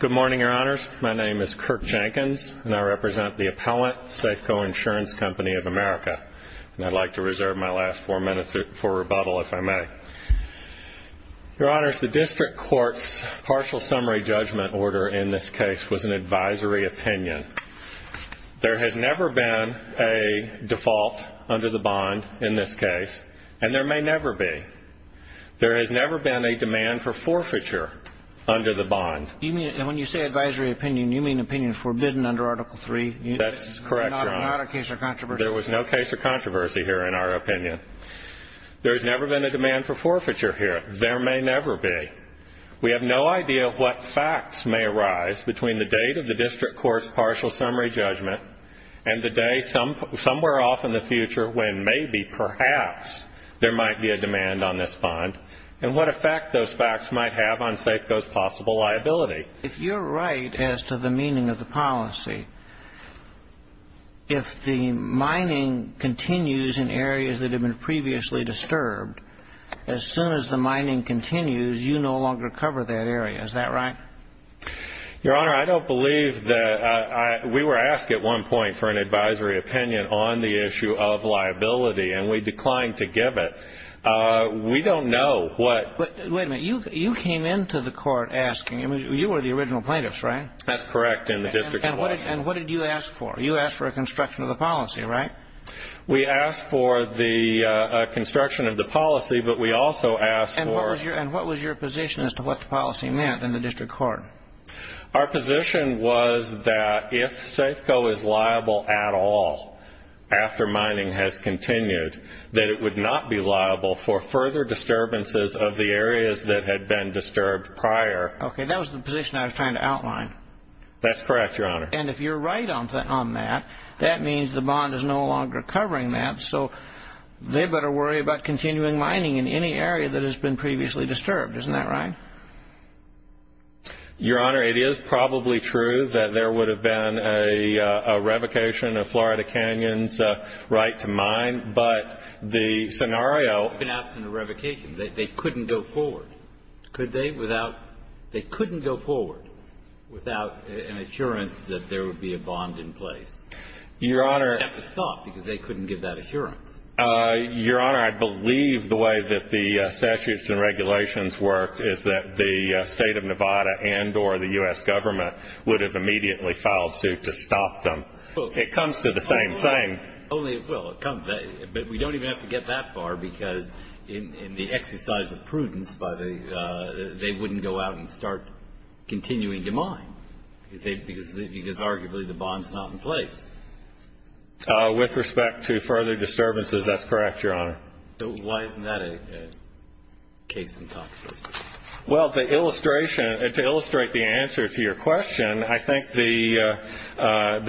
Good morning, Your Honors. My name is Kirk Jenkins, and I represent the appellant, Safeco Insurance Company of America, and I'd like to reserve my last four minutes for rebuttal if I may. Your Honors, the District Court's partial summary judgment order in this case was an advisory opinion. There has never been a default under the bond in this case, and there may never be. There has never been a demand for forfeiture under the bond. You mean, when you say advisory opinion, you mean opinion forbidden under Article III? That's correct, Your Honor. Not a case of controversy? There was no case of controversy here in our opinion. There has never been a demand for forfeiture here. There may never be. We have no idea what facts may arise between the date of the District Court's partial summary judgment and the day somewhere off in the future when maybe, perhaps, there might be a demand on this bond, and what effect those facts might have on Safeco's possible liability. If you're right as to the meaning of the policy, if the mining continues in areas that have been previously disturbed, as soon as the mining continues, you no longer cover that area. Is that right? Your Honor, I don't believe that we were asked at one point for an advisory opinion on the liability, and we declined to give it. We don't know what... Wait a minute. You came into the court asking. You were the original plaintiffs, right? That's correct, in the District Court. And what did you ask for? You asked for a construction of the policy, right? We asked for the construction of the policy, but we also asked for... And what was your position as to what the policy meant in the District Court? Our position was that if Safeco is liable at all after mining has continued, that it would not be liable for further disturbances of the areas that had been disturbed prior. Okay, that was the position I was trying to outline. That's correct, Your Honor. And if you're right on that, that means the bond is no longer covering that, so they better worry about continuing mining in any area that has been previously disturbed. Isn't that right? Your Honor, it is probably true that there would have been a revocation of Florida Canyon's right to mine, but the scenario... It would have been absent a revocation. They couldn't go forward, could they, without... They couldn't go forward without an assurance that there would be a bond in place. Your Honor... They'd have to stop because they couldn't give that assurance. Your Honor, I believe the way that the statutes and regulations worked is that the state of Nevada and or the U.S. government would have immediately filed suit to stop them. It comes to the same thing. Only, well, but we don't even have to get that far because in the exercise of prudence by the... they wouldn't go out and start continuing to mine because arguably the bond's not in place. With respect to further disturbances, that's correct, Your Honor. So why isn't that a case in Congress? Well, the illustration... to illustrate the answer to your question, I think the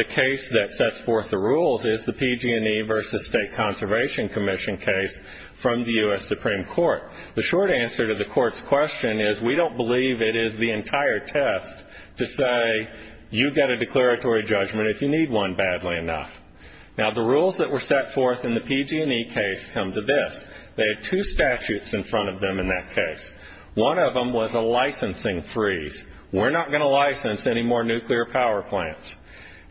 case that sets forth the rules is the PG&E versus State Conservation Commission case from the U.S. Supreme Court. The short answer to the Court's question is we don't believe it is to say you get a declaratory judgment if you need one badly enough. Now, the rules that were set forth in the PG&E case come to this. They had two statutes in front of them in that case. One of them was a licensing freeze. We're not going to license any more nuclear power plants.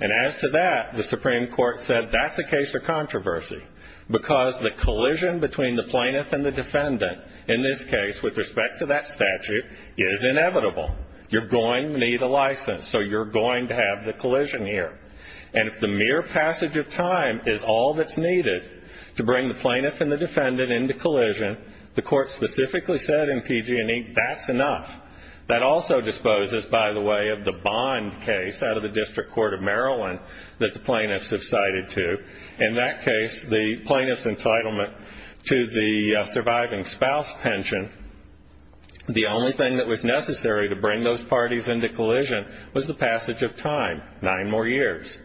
And as to that, the Supreme Court said that's a case of controversy because the collision between the plaintiff and the defendant in this case with respect to that statute is inevitable. You're going to need a license, so you're going to have the collision here. And if the mere passage of time is all that's needed to bring the plaintiff and the defendant into collision, the Court specifically said in PG&E that's enough. That also disposes, by the way, of the bond case out of the District Court of Maryland that the plaintiffs have cited to. In that case, the plaintiff's entitlement to the surviving spouse pension, the only thing that was necessary to bring those parties into collision was the passage of time, nine more years.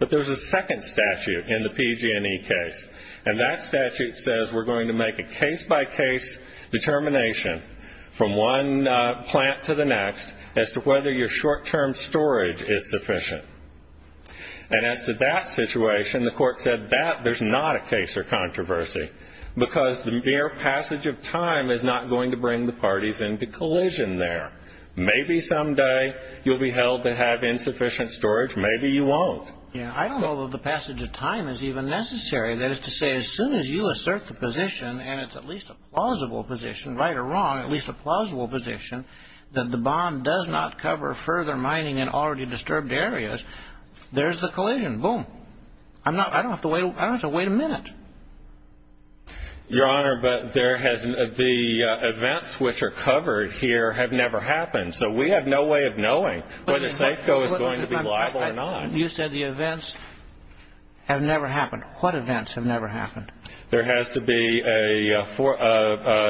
But there's a second statute in the PG&E case, and that statute says we're going to make a case-by-case determination from one plant to the next as to whether your short-term storage is sufficient. And as to that situation, the Court said that there's not a case of controversy because the mere passage of time is not going to bring the parties into collision there. Maybe someday you'll be held to have insufficient storage. Maybe you won't. Yeah. I don't know that the passage of time is even necessary. That is to say, as soon as you assert the position, and it's at least a plausible position, right or wrong, at least a plausible position, that the bond does not cover further mining in already disturbed areas, there's the collision. Boom. I don't have to wait a minute. Your Honor, the events which are covered here have never happened, so we have no way of knowing whether Safeco is going to be liable or not. You said the events have never happened. What events have never happened? There has to be a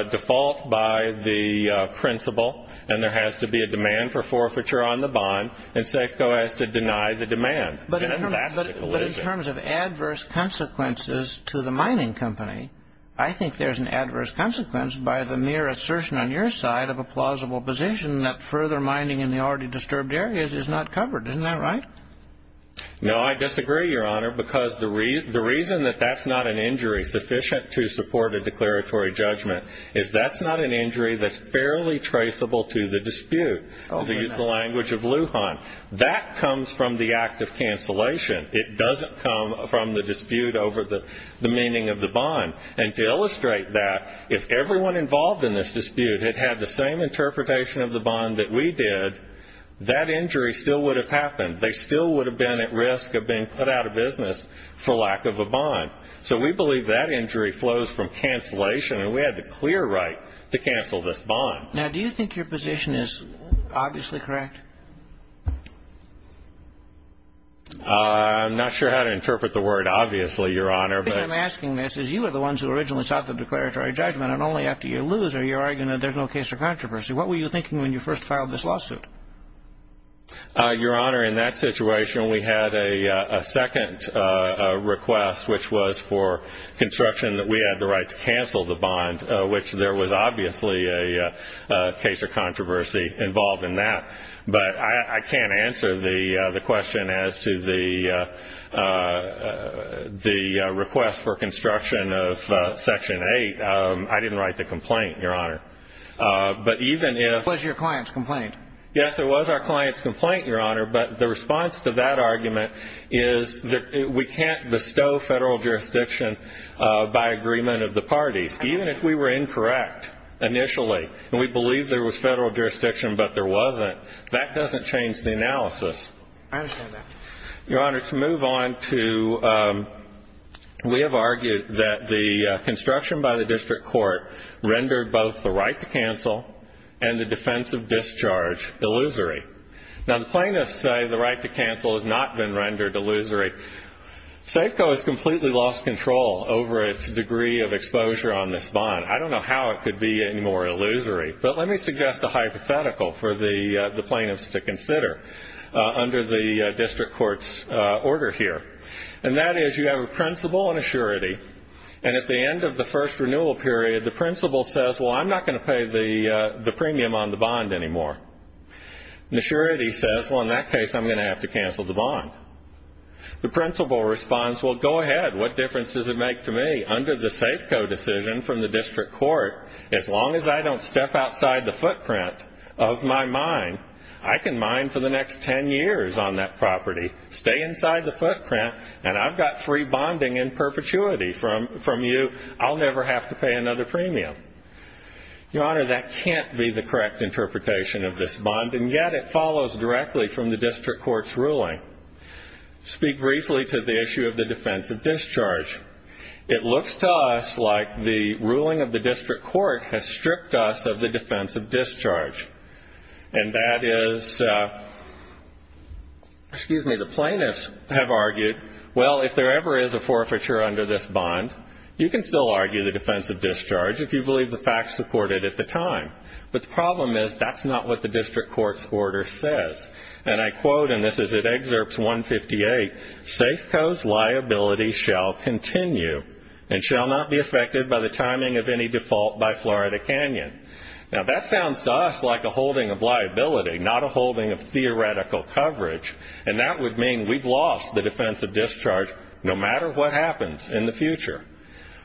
default by the principal, and there has to be a demand for forfeiture on the bond, and Safeco has to deny the demand. And that's the collision. But in terms of adverse consequences to the mining company, I think there's an adverse consequence by the mere assertion on your side of a plausible position that further mining in the already disturbed areas is not covered. Isn't that right? No, I disagree, Your Honor, because the reason that that's not an injury sufficient to support a declaratory judgment is that's not an injury that's fairly traceable to the dispute, to use the language of Lujan. That comes from the act of cancellation. It doesn't come from the dispute over the meaning of the bond. And to illustrate that, if everyone involved in this dispute had had the same interpretation of the bond, they still would have been at risk of being put out of business for lack of a bond. So we believe that injury flows from cancellation, and we have the clear right to cancel this bond. Now, do you think your position is obviously correct? I'm not sure how to interpret the word obviously, Your Honor. What I'm asking is you are the ones who originally sought the declaratory judgment, and only after you lose are you thinking when you first filed this lawsuit? Your Honor, in that situation, we had a second request, which was for construction that we had the right to cancel the bond, which there was obviously a case of controversy involved in that. But I can't answer the question as to the request for construction of Section 8. I didn't write the complaint, Your Honor. It was your client's complaint. Yes, it was our client's complaint, Your Honor, but the response to that argument is that we can't bestow federal jurisdiction by agreement of the parties. Even if we were incorrect initially, and we believed there was federal jurisdiction but there wasn't, that doesn't change the analysis. I understand that. Your Honor, to move on to we have argued that the construction by the district court rendered both the right to cancel and the defense of discharge illusory. Now, the plaintiffs say the right to cancel has not been rendered illusory. Safeco has completely lost control over its degree of exposure on this bond. I don't know how it could be any more illusory, but let me suggest a hypothetical for the plaintiffs to consider under the district court's order here. And that is you have a principal and a surety, and at the end of the first renewal period, the principal says, well, I'm not going to pay the premium on the bond anymore. And the surety says, well, in that case, I'm going to have to cancel the bond. The principal responds, well, go ahead, what difference does it make to me? Under the Safeco decision from the district court, as long as I don't step outside the footprint of my mine, I can mine for the next 10 years on that property, stay inside the footprint, and I've got free bonding in perpetuity from you. I'll never have to pay another premium. Your Honor, that can't be the correct interpretation of this bond, and yet it follows directly from the district court's ruling. Speak briefly to the issue of the defense of discharge. It looks to us like the ruling of the district court has stripped us of the defense of discharge. And that is the plaintiffs have argued, well, if there ever is a forfeiture under this bond, you can still argue the defense of discharge if you believe the facts supported at the time. But the problem is that's not what the district court's order says. And I quote, and this is in Excerpts 158, Safeco's liability shall continue and shall not be affected by the timing of any default by Florida Canyon. Now, that sounds to us like a holding of liability, not a holding of theoretical coverage, and that would mean we've lost the defense of discharge no matter what happens in the future.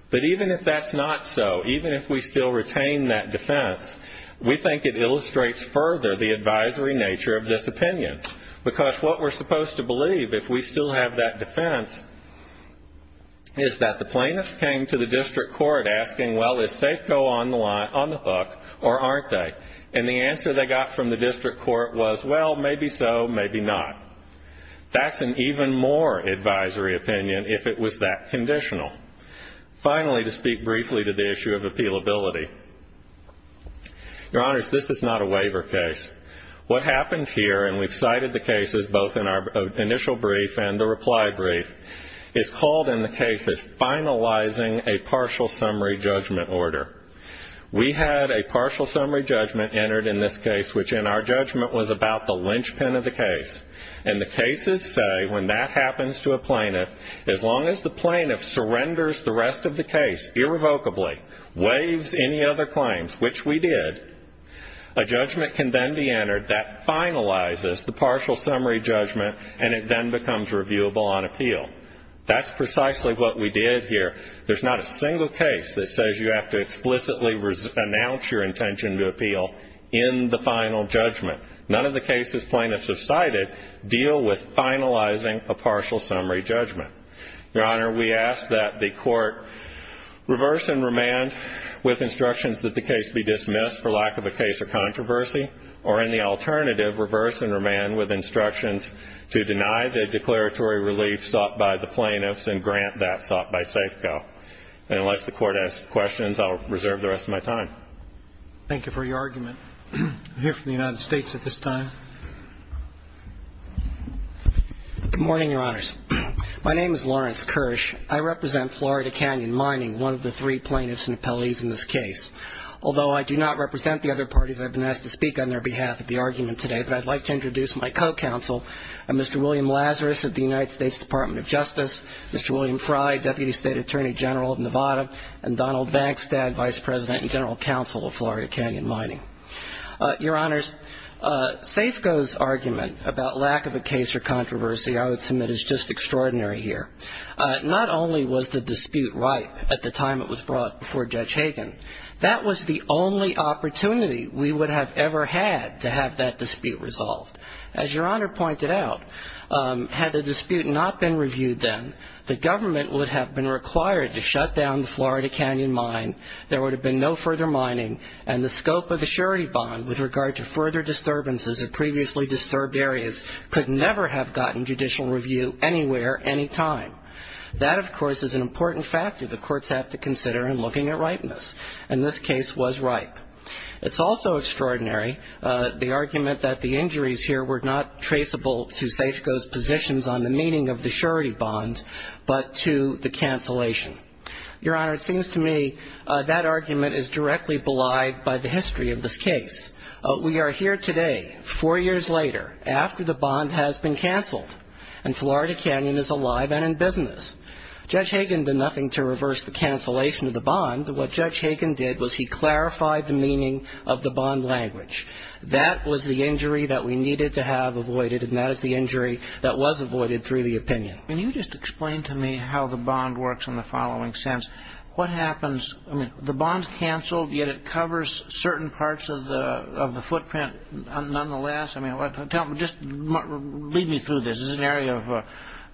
But even if that's not so, even if we still retain that defense, we think it illustrates further the advisory nature of this opinion. Because what we're supposed to believe, if we still have that defense, is that the plaintiffs came to the district court asking, well, is Safeco on the hook or aren't they? And the answer they got from the district court was, well, maybe so, maybe not. That's an even more advisory opinion if it was that conditional. Finally, to speak briefly to the issue of appealability. Your Honors, this is not a waiver case. What happens here, and we've cited the cases both in our initial brief and the reply brief, is called in the cases finalizing a partial summary judgment order. We had a partial summary judgment entered in this case, which in our judgment was about the linchpin of the case. And the cases say, when that happens to a plaintiff, as long as the plaintiff surrenders the rest of the case irrevocably, waives any other claims, which we did, a judgment can then be entered that finalizes the partial summary judgment, and it then becomes reviewable on appeal. That's precisely what we did here. There's not a single case that says you have to explicitly announce your intention to appeal in the final judgment. None of the cases plaintiffs have cited deal with finalizing a partial summary judgment. Your Honor, we ask that the court reverse and remand with instructions that the case be dismissed for lack of a case of controversy, or in the alternative, reverse and remand with instructions to deny the declaratory relief sought by the plaintiffs and grant that sought by Safeco. And unless the Court has questions, I'll reserve the rest of my time. Thank you for your argument. I'm here from the United States at this time. Good morning, Your Honors. My name is Lawrence Kirsch. I represent Florida Canyon Mining, one of the three plaintiffs and appellees in this case. Although I do not represent the other parties, I've been asked to speak on their behalf at the argument today, but I'd like to introduce my co-counsel, Mr. William Lazarus of the United States Department of Justice, Mr. William Fry, Deputy State Attorney General of Nevada, and Donald Vagstad, Vice President and General Counsel of Florida Canyon Mining. Your Honors, Safeco's argument about lack of a case or controversy I would submit is just extraordinary here. Not only was the dispute ripe at the time it was brought before Judge Hagan, that was the only opportunity we would have ever had to have that dispute resolved. As Your Honor pointed out, had the dispute not been reviewed then, the government would have been required to shut down the Florida Canyon Mine, there would have been no further mining, and the scope of the surety bond with regard to further disturbances in previously disturbed areas could never have gotten judicial review anywhere, any time. That, of course, is an important factor the courts have to consider in looking at ripeness, and this case was ripe. It's also extraordinary the argument that the injuries here were not traceable to Safeco's positions on the meaning of the surety bond, but to the cancellation. Your Honor, it seems to me that argument is directly belied by the history of this case. We are here today, four years later, after the bond has been canceled, and Florida Canyon is alive and in business. Judge Hagan did nothing to reverse the cancellation of the bond. What Judge Hagan did was he clarified the meaning of the bond language. That was the injury that we needed to have avoided, and that is the injury that was avoided through the opinion. Can you just explain to me how the bond works in the following sense? What happens? I mean, the bond's canceled, yet it covers certain parts of the footprint nonetheless. I mean, just lead me through this. This is an area of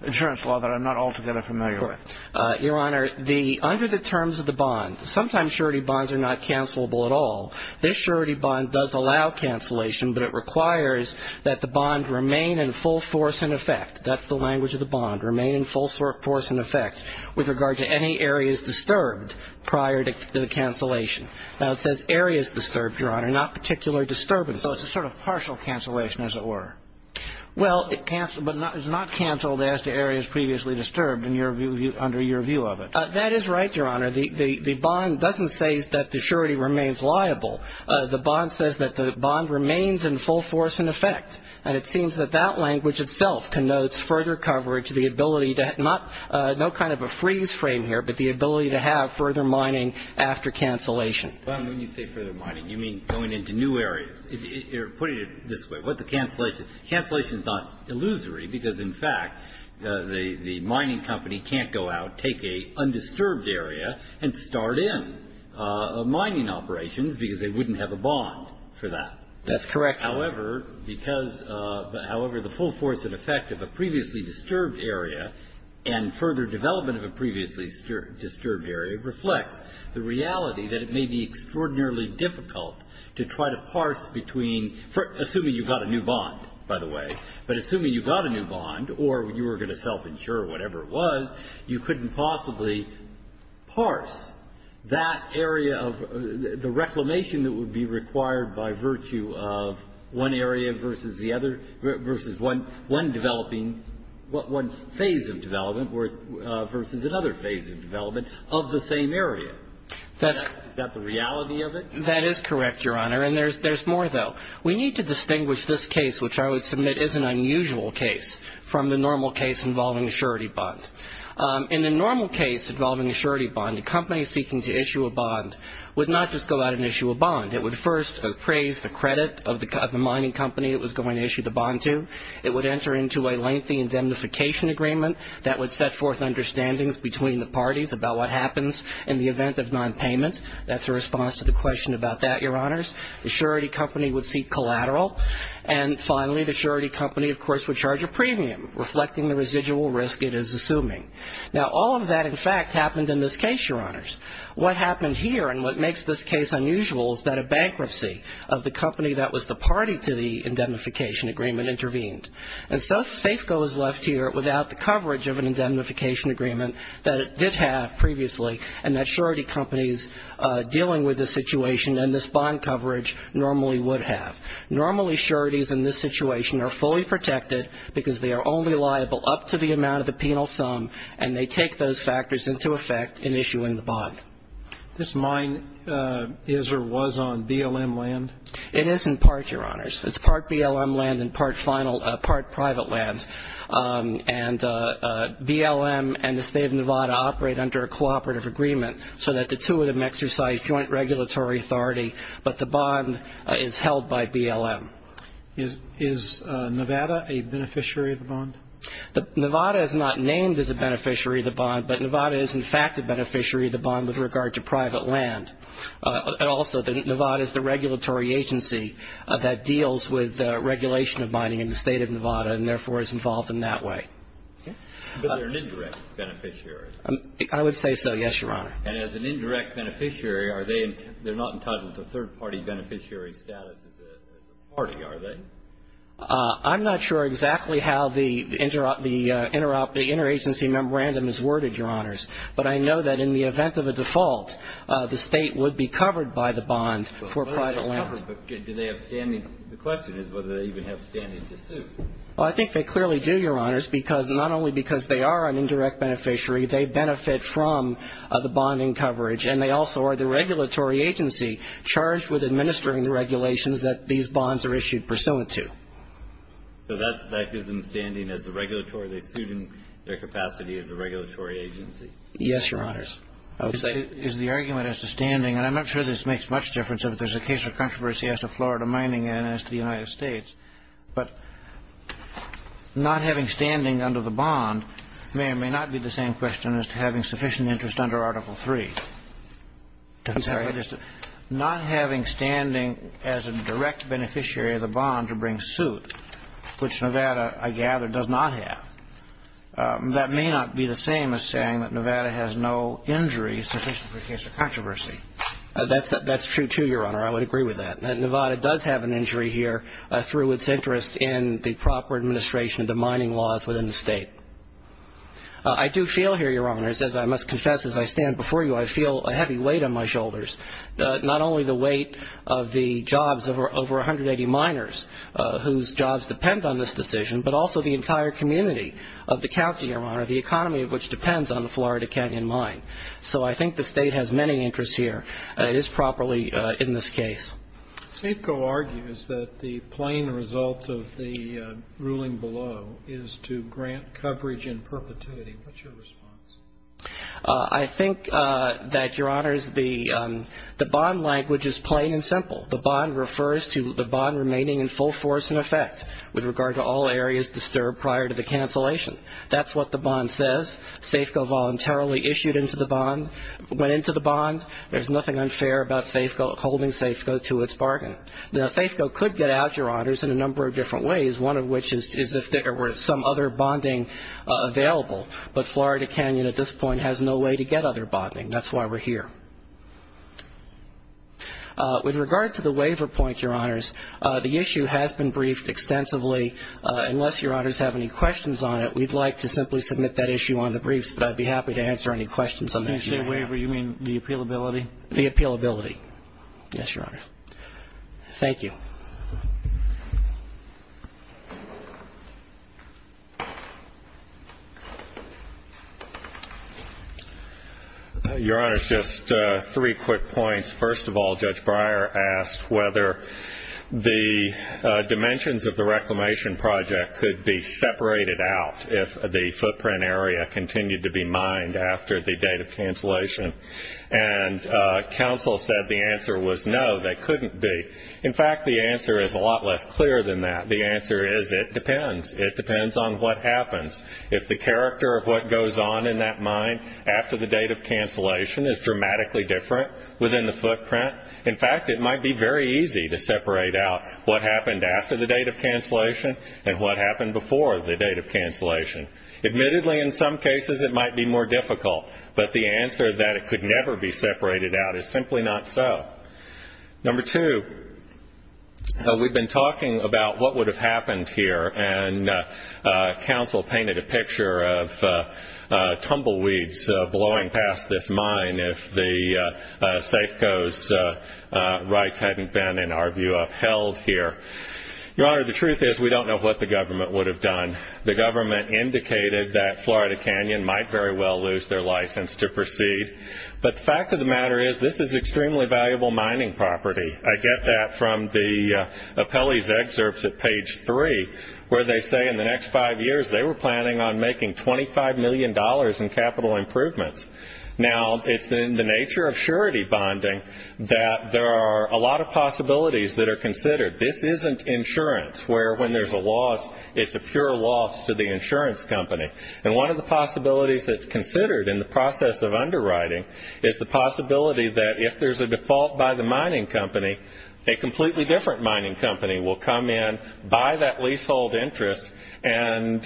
insurance law that I'm not altogether familiar with. Your Honor, under the terms of the bond, sometimes surety bonds are not cancelable at all. This surety bond does allow cancellation, but it requires that the bond remain in full force and effect. That's the language of the bond, remain in full force and effect with regard to any areas disturbed prior to the cancellation. Now, it says areas disturbed, Your Honor, not particular disturbances. So it's a sort of partial cancellation, as it were. Well, it's not canceled as to areas previously disturbed under your view of it. That is right, Your Honor. The bond doesn't say that the surety remains liable. The bond says that the bond remains in full force and effect, and it seems that that language itself connotes further coverage, the ability to have no kind of a freeze frame here, but the ability to have further mining after cancellation. Well, when you say further mining, you mean going into new areas. You're putting it this way. What the cancellation? Cancellation is not illusory because, in fact, the mining company can't go out, take a undisturbed area, and start in mining operations because they wouldn't have a bond for that. That's correct. However, because the full force and effect of a previously disturbed area and further development of a previously disturbed area reflects the reality that it may be extraordinarily difficult to try to parse between, assuming you've got a new bond, by the way, but assuming you've got a new bond or you were going to self-insure or whatever it was, you couldn't possibly parse that area of the reclamation that would be required by virtue of one area versus the other, versus one developing, one phase of development versus another phase of development of the same area. Is that the reality of it? That is correct, Your Honor, and there's more, though. We need to distinguish this case, which I would submit is an unusual case, from the normal case involving a surety bond. In the normal case involving a surety bond, a company seeking to issue a bond would not just go out and issue a bond. It would first appraise the credit of the mining company it was going to issue the bond to. It would enter into a lengthy indemnification agreement that would set forth understandings between the parties about what happens in the event of nonpayment. That's a response to the question about that, Your Honors. The surety company would seek collateral. And finally, the surety company, of course, would charge a premium, reflecting the residual risk it is assuming. Now, all of that, in fact, happened in this case, Your Honors. What happened here and what makes this case unusual is that a bankruptcy of the company that was the party to the indemnification agreement intervened. And so Safeco is left here without the coverage of an indemnification agreement that it did have previously and that surety companies dealing with this situation and this bond coverage normally would have. Normally, sureties in this situation are fully protected, because they are only liable up to the amount of the penal sum, and they take those factors into effect in issuing the bond. This mine is or was on BLM land? It is in part, Your Honors. It's part BLM land and part private land. And BLM and the State of Nevada operate under a cooperative agreement so that the two of them exercise joint regulatory authority, but the bond is held by BLM. Is Nevada a beneficiary of the bond? Nevada is not named as a beneficiary of the bond, but Nevada is in fact a beneficiary of the bond with regard to private land. And also, Nevada is the regulatory agency that deals with regulation of mining in the State of Nevada and therefore is involved in that way. But they're an indirect beneficiary? I would say so, yes, Your Honor. And as an indirect beneficiary, they're not entitled to third-party beneficiary status as a party, are they? I'm not sure exactly how the interagency memorandum is worded, Your Honors, but I know that in the event of a default, the State would be covered by the bond for private land. Do they have standing? The question is whether they even have standing to sue. Well, I think they clearly do, Your Honors, because not only because they are an indirect beneficiary, they benefit from the bonding coverage, and they also are the regulatory agency charged with administering the regulations that these bonds are issued pursuant to. So that gives them standing as a regulatory? They sued in their capacity as a regulatory agency? Yes, Your Honors. Is the argument as to standing, and I'm not sure this makes much difference, if there's a case of controversy as to Florida mining and as to the United States, but not having standing under the bond may or may not be the same question as to having sufficient interest under Article III. I'm sorry? Not having standing as a direct beneficiary of the bond to bring suit, which Nevada, I gather, does not have. That may not be the same as saying that Nevada has no injury sufficient for a case of controversy. That's true, too, Your Honor. I would agree with that. Nevada does have an injury here through its interest in the proper administration of the mining laws within the state. I do feel here, Your Honors, as I must confess as I stand before you, I feel a heavy weight on my shoulders, not only the weight of the jobs of over 180 miners whose jobs depend on this decision, but also the entire community of the county, Your Honor, the economy of which depends on the Florida Canyon mine. So I think the state has many interests here. It is properly in this case. SAFCO argues that the plain result of the ruling below is to grant coverage in perpetuity. What's your response? I think that, Your Honors, the bond language is plain and simple. The bond refers to the bond remaining in full force and effect with regard to all areas disturbed prior to the cancellation. That's what the bond says. SAFCO voluntarily issued into the bond, went into the bond. There's nothing unfair about SAFCO holding SAFCO to its bargain. Now, SAFCO could get out, Your Honors, in a number of different ways, one of which is if there were some other bonding available. But Florida Canyon at this point has no way to get other bonding. That's why we're here. With regard to the waiver point, Your Honors, the issue has been briefed extensively. Unless Your Honors have any questions on it, we'd like to simply submit that issue on the briefs, but I'd be happy to answer any questions on that matter. When you say waiver, you mean the appealability? The appealability, yes, Your Honor. Thank you. Your Honors, just three quick points. First of all, Judge Breyer asked whether the dimensions of the reclamation project could be separated out if the footprint area continued to be mined after the date of cancellation. And counsel said the answer was no, they couldn't be. In fact, the answer is a lot less clear than that. The answer is it depends. It depends on what happens. If the character of what goes on in that mine after the date of cancellation is dramatically different within the footprint, in fact, it might be very easy to separate out what happened after the date of cancellation and what happened before the date of cancellation. Admittedly, in some cases it might be more difficult, but the answer that it could never be separated out is simply not so. Number two, we've been talking about what would have happened here, and counsel painted a picture of tumbleweeds blowing past this mine if the Safeco's rights hadn't been, in our view, upheld here. Your Honor, the truth is we don't know what the government would have done. The government indicated that Florida Canyon might very well lose their license to proceed. But the fact of the matter is this is extremely valuable mining property. I get that from the appellee's excerpts at page three, where they say in the next five years they were planning on making $25 million in capital improvements. Now, it's in the nature of surety bonding that there are a lot of possibilities that are considered. This isn't insurance, where when there's a loss, it's a pure loss to the insurance company. And one of the possibilities that's considered in the process of underwriting is the possibility that if there's a default by the mining company, a completely different mining company will come in, buy that leasehold interest, and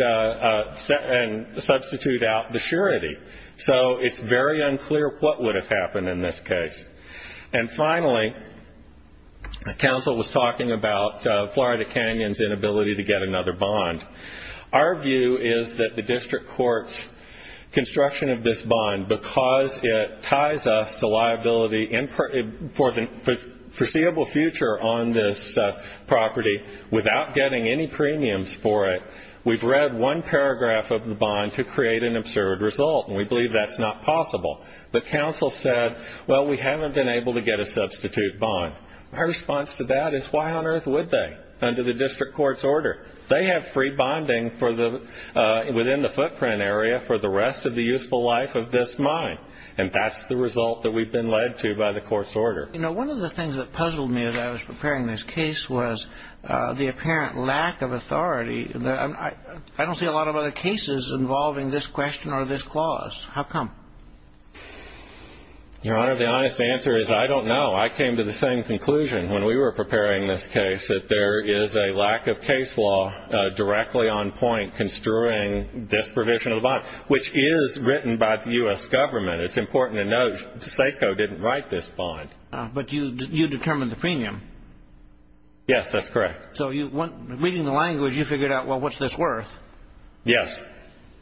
substitute out the surety. So it's very unclear what would have happened in this case. And finally, counsel was talking about Florida Canyon's inability to get another bond. Our view is that the district court's construction of this bond, because it ties us to liability for the foreseeable future on this property without getting any premiums for it, we've read one paragraph of the bond to create an absurd result, and we believe that's not possible. But counsel said, well, we haven't been able to get a substitute bond. My response to that is, why on earth would they, under the district court's order? They have free bonding within the footprint area for the rest of the youthful life of this mine, and that's the result that we've been led to by the court's order. You know, one of the things that puzzled me as I was preparing this case was the apparent lack of authority. I don't see a lot of other cases involving this question or this clause. How come? Your Honor, the honest answer is I don't know. I came to the same conclusion when we were preparing this case, that there is a lack of case law directly on point construing this provision of the bond, which is written by the U.S. government. It's important to note SACO didn't write this bond. But you determined the premium. Yes, that's correct. So reading the language, you figured out, well, what's this worth? Yes.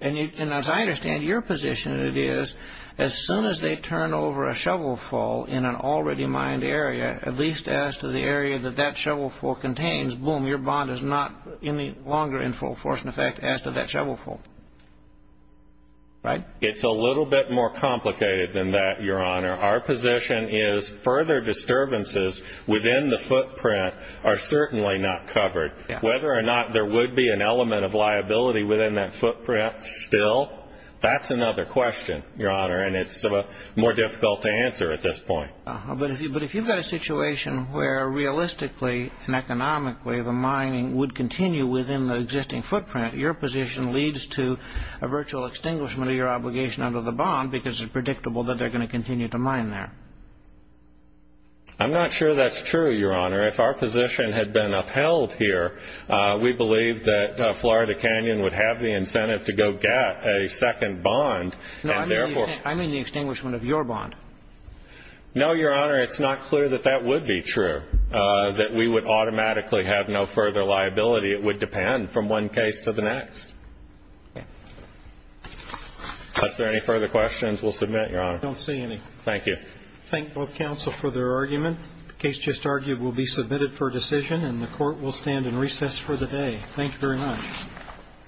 And as I understand it, your position is as soon as they turn over a shovel full in an already mined area, at least as to the area that that shovel full contains, boom, your bond is not any longer in full force and effect as to that shovel full, right? It's a little bit more complicated than that, Your Honor. Our position is further disturbances within the footprint are certainly not covered. Whether or not there would be an element of liability within that footprint still, that's another question, Your Honor, and it's more difficult to answer at this point. But if you've got a situation where realistically and economically the mining would continue within the existing footprint, your position leads to a virtual extinguishment of your obligation under the bond because it's predictable that they're going to continue to mine there. I'm not sure that's true, Your Honor. If our position had been upheld here, we believe that Florida Canyon would have the incentive to go get a second bond. No, I mean the extinguishment of your bond. No, Your Honor, it's not clear that that would be true, that we would automatically have no further liability. It would depend from one case to the next. Is there any further questions? We'll submit, Your Honor. I don't see any. Thank you. Thank both counsel for their argument. The case just argued will be submitted for decision, and the court will stand in recess for the day. Thank you very much.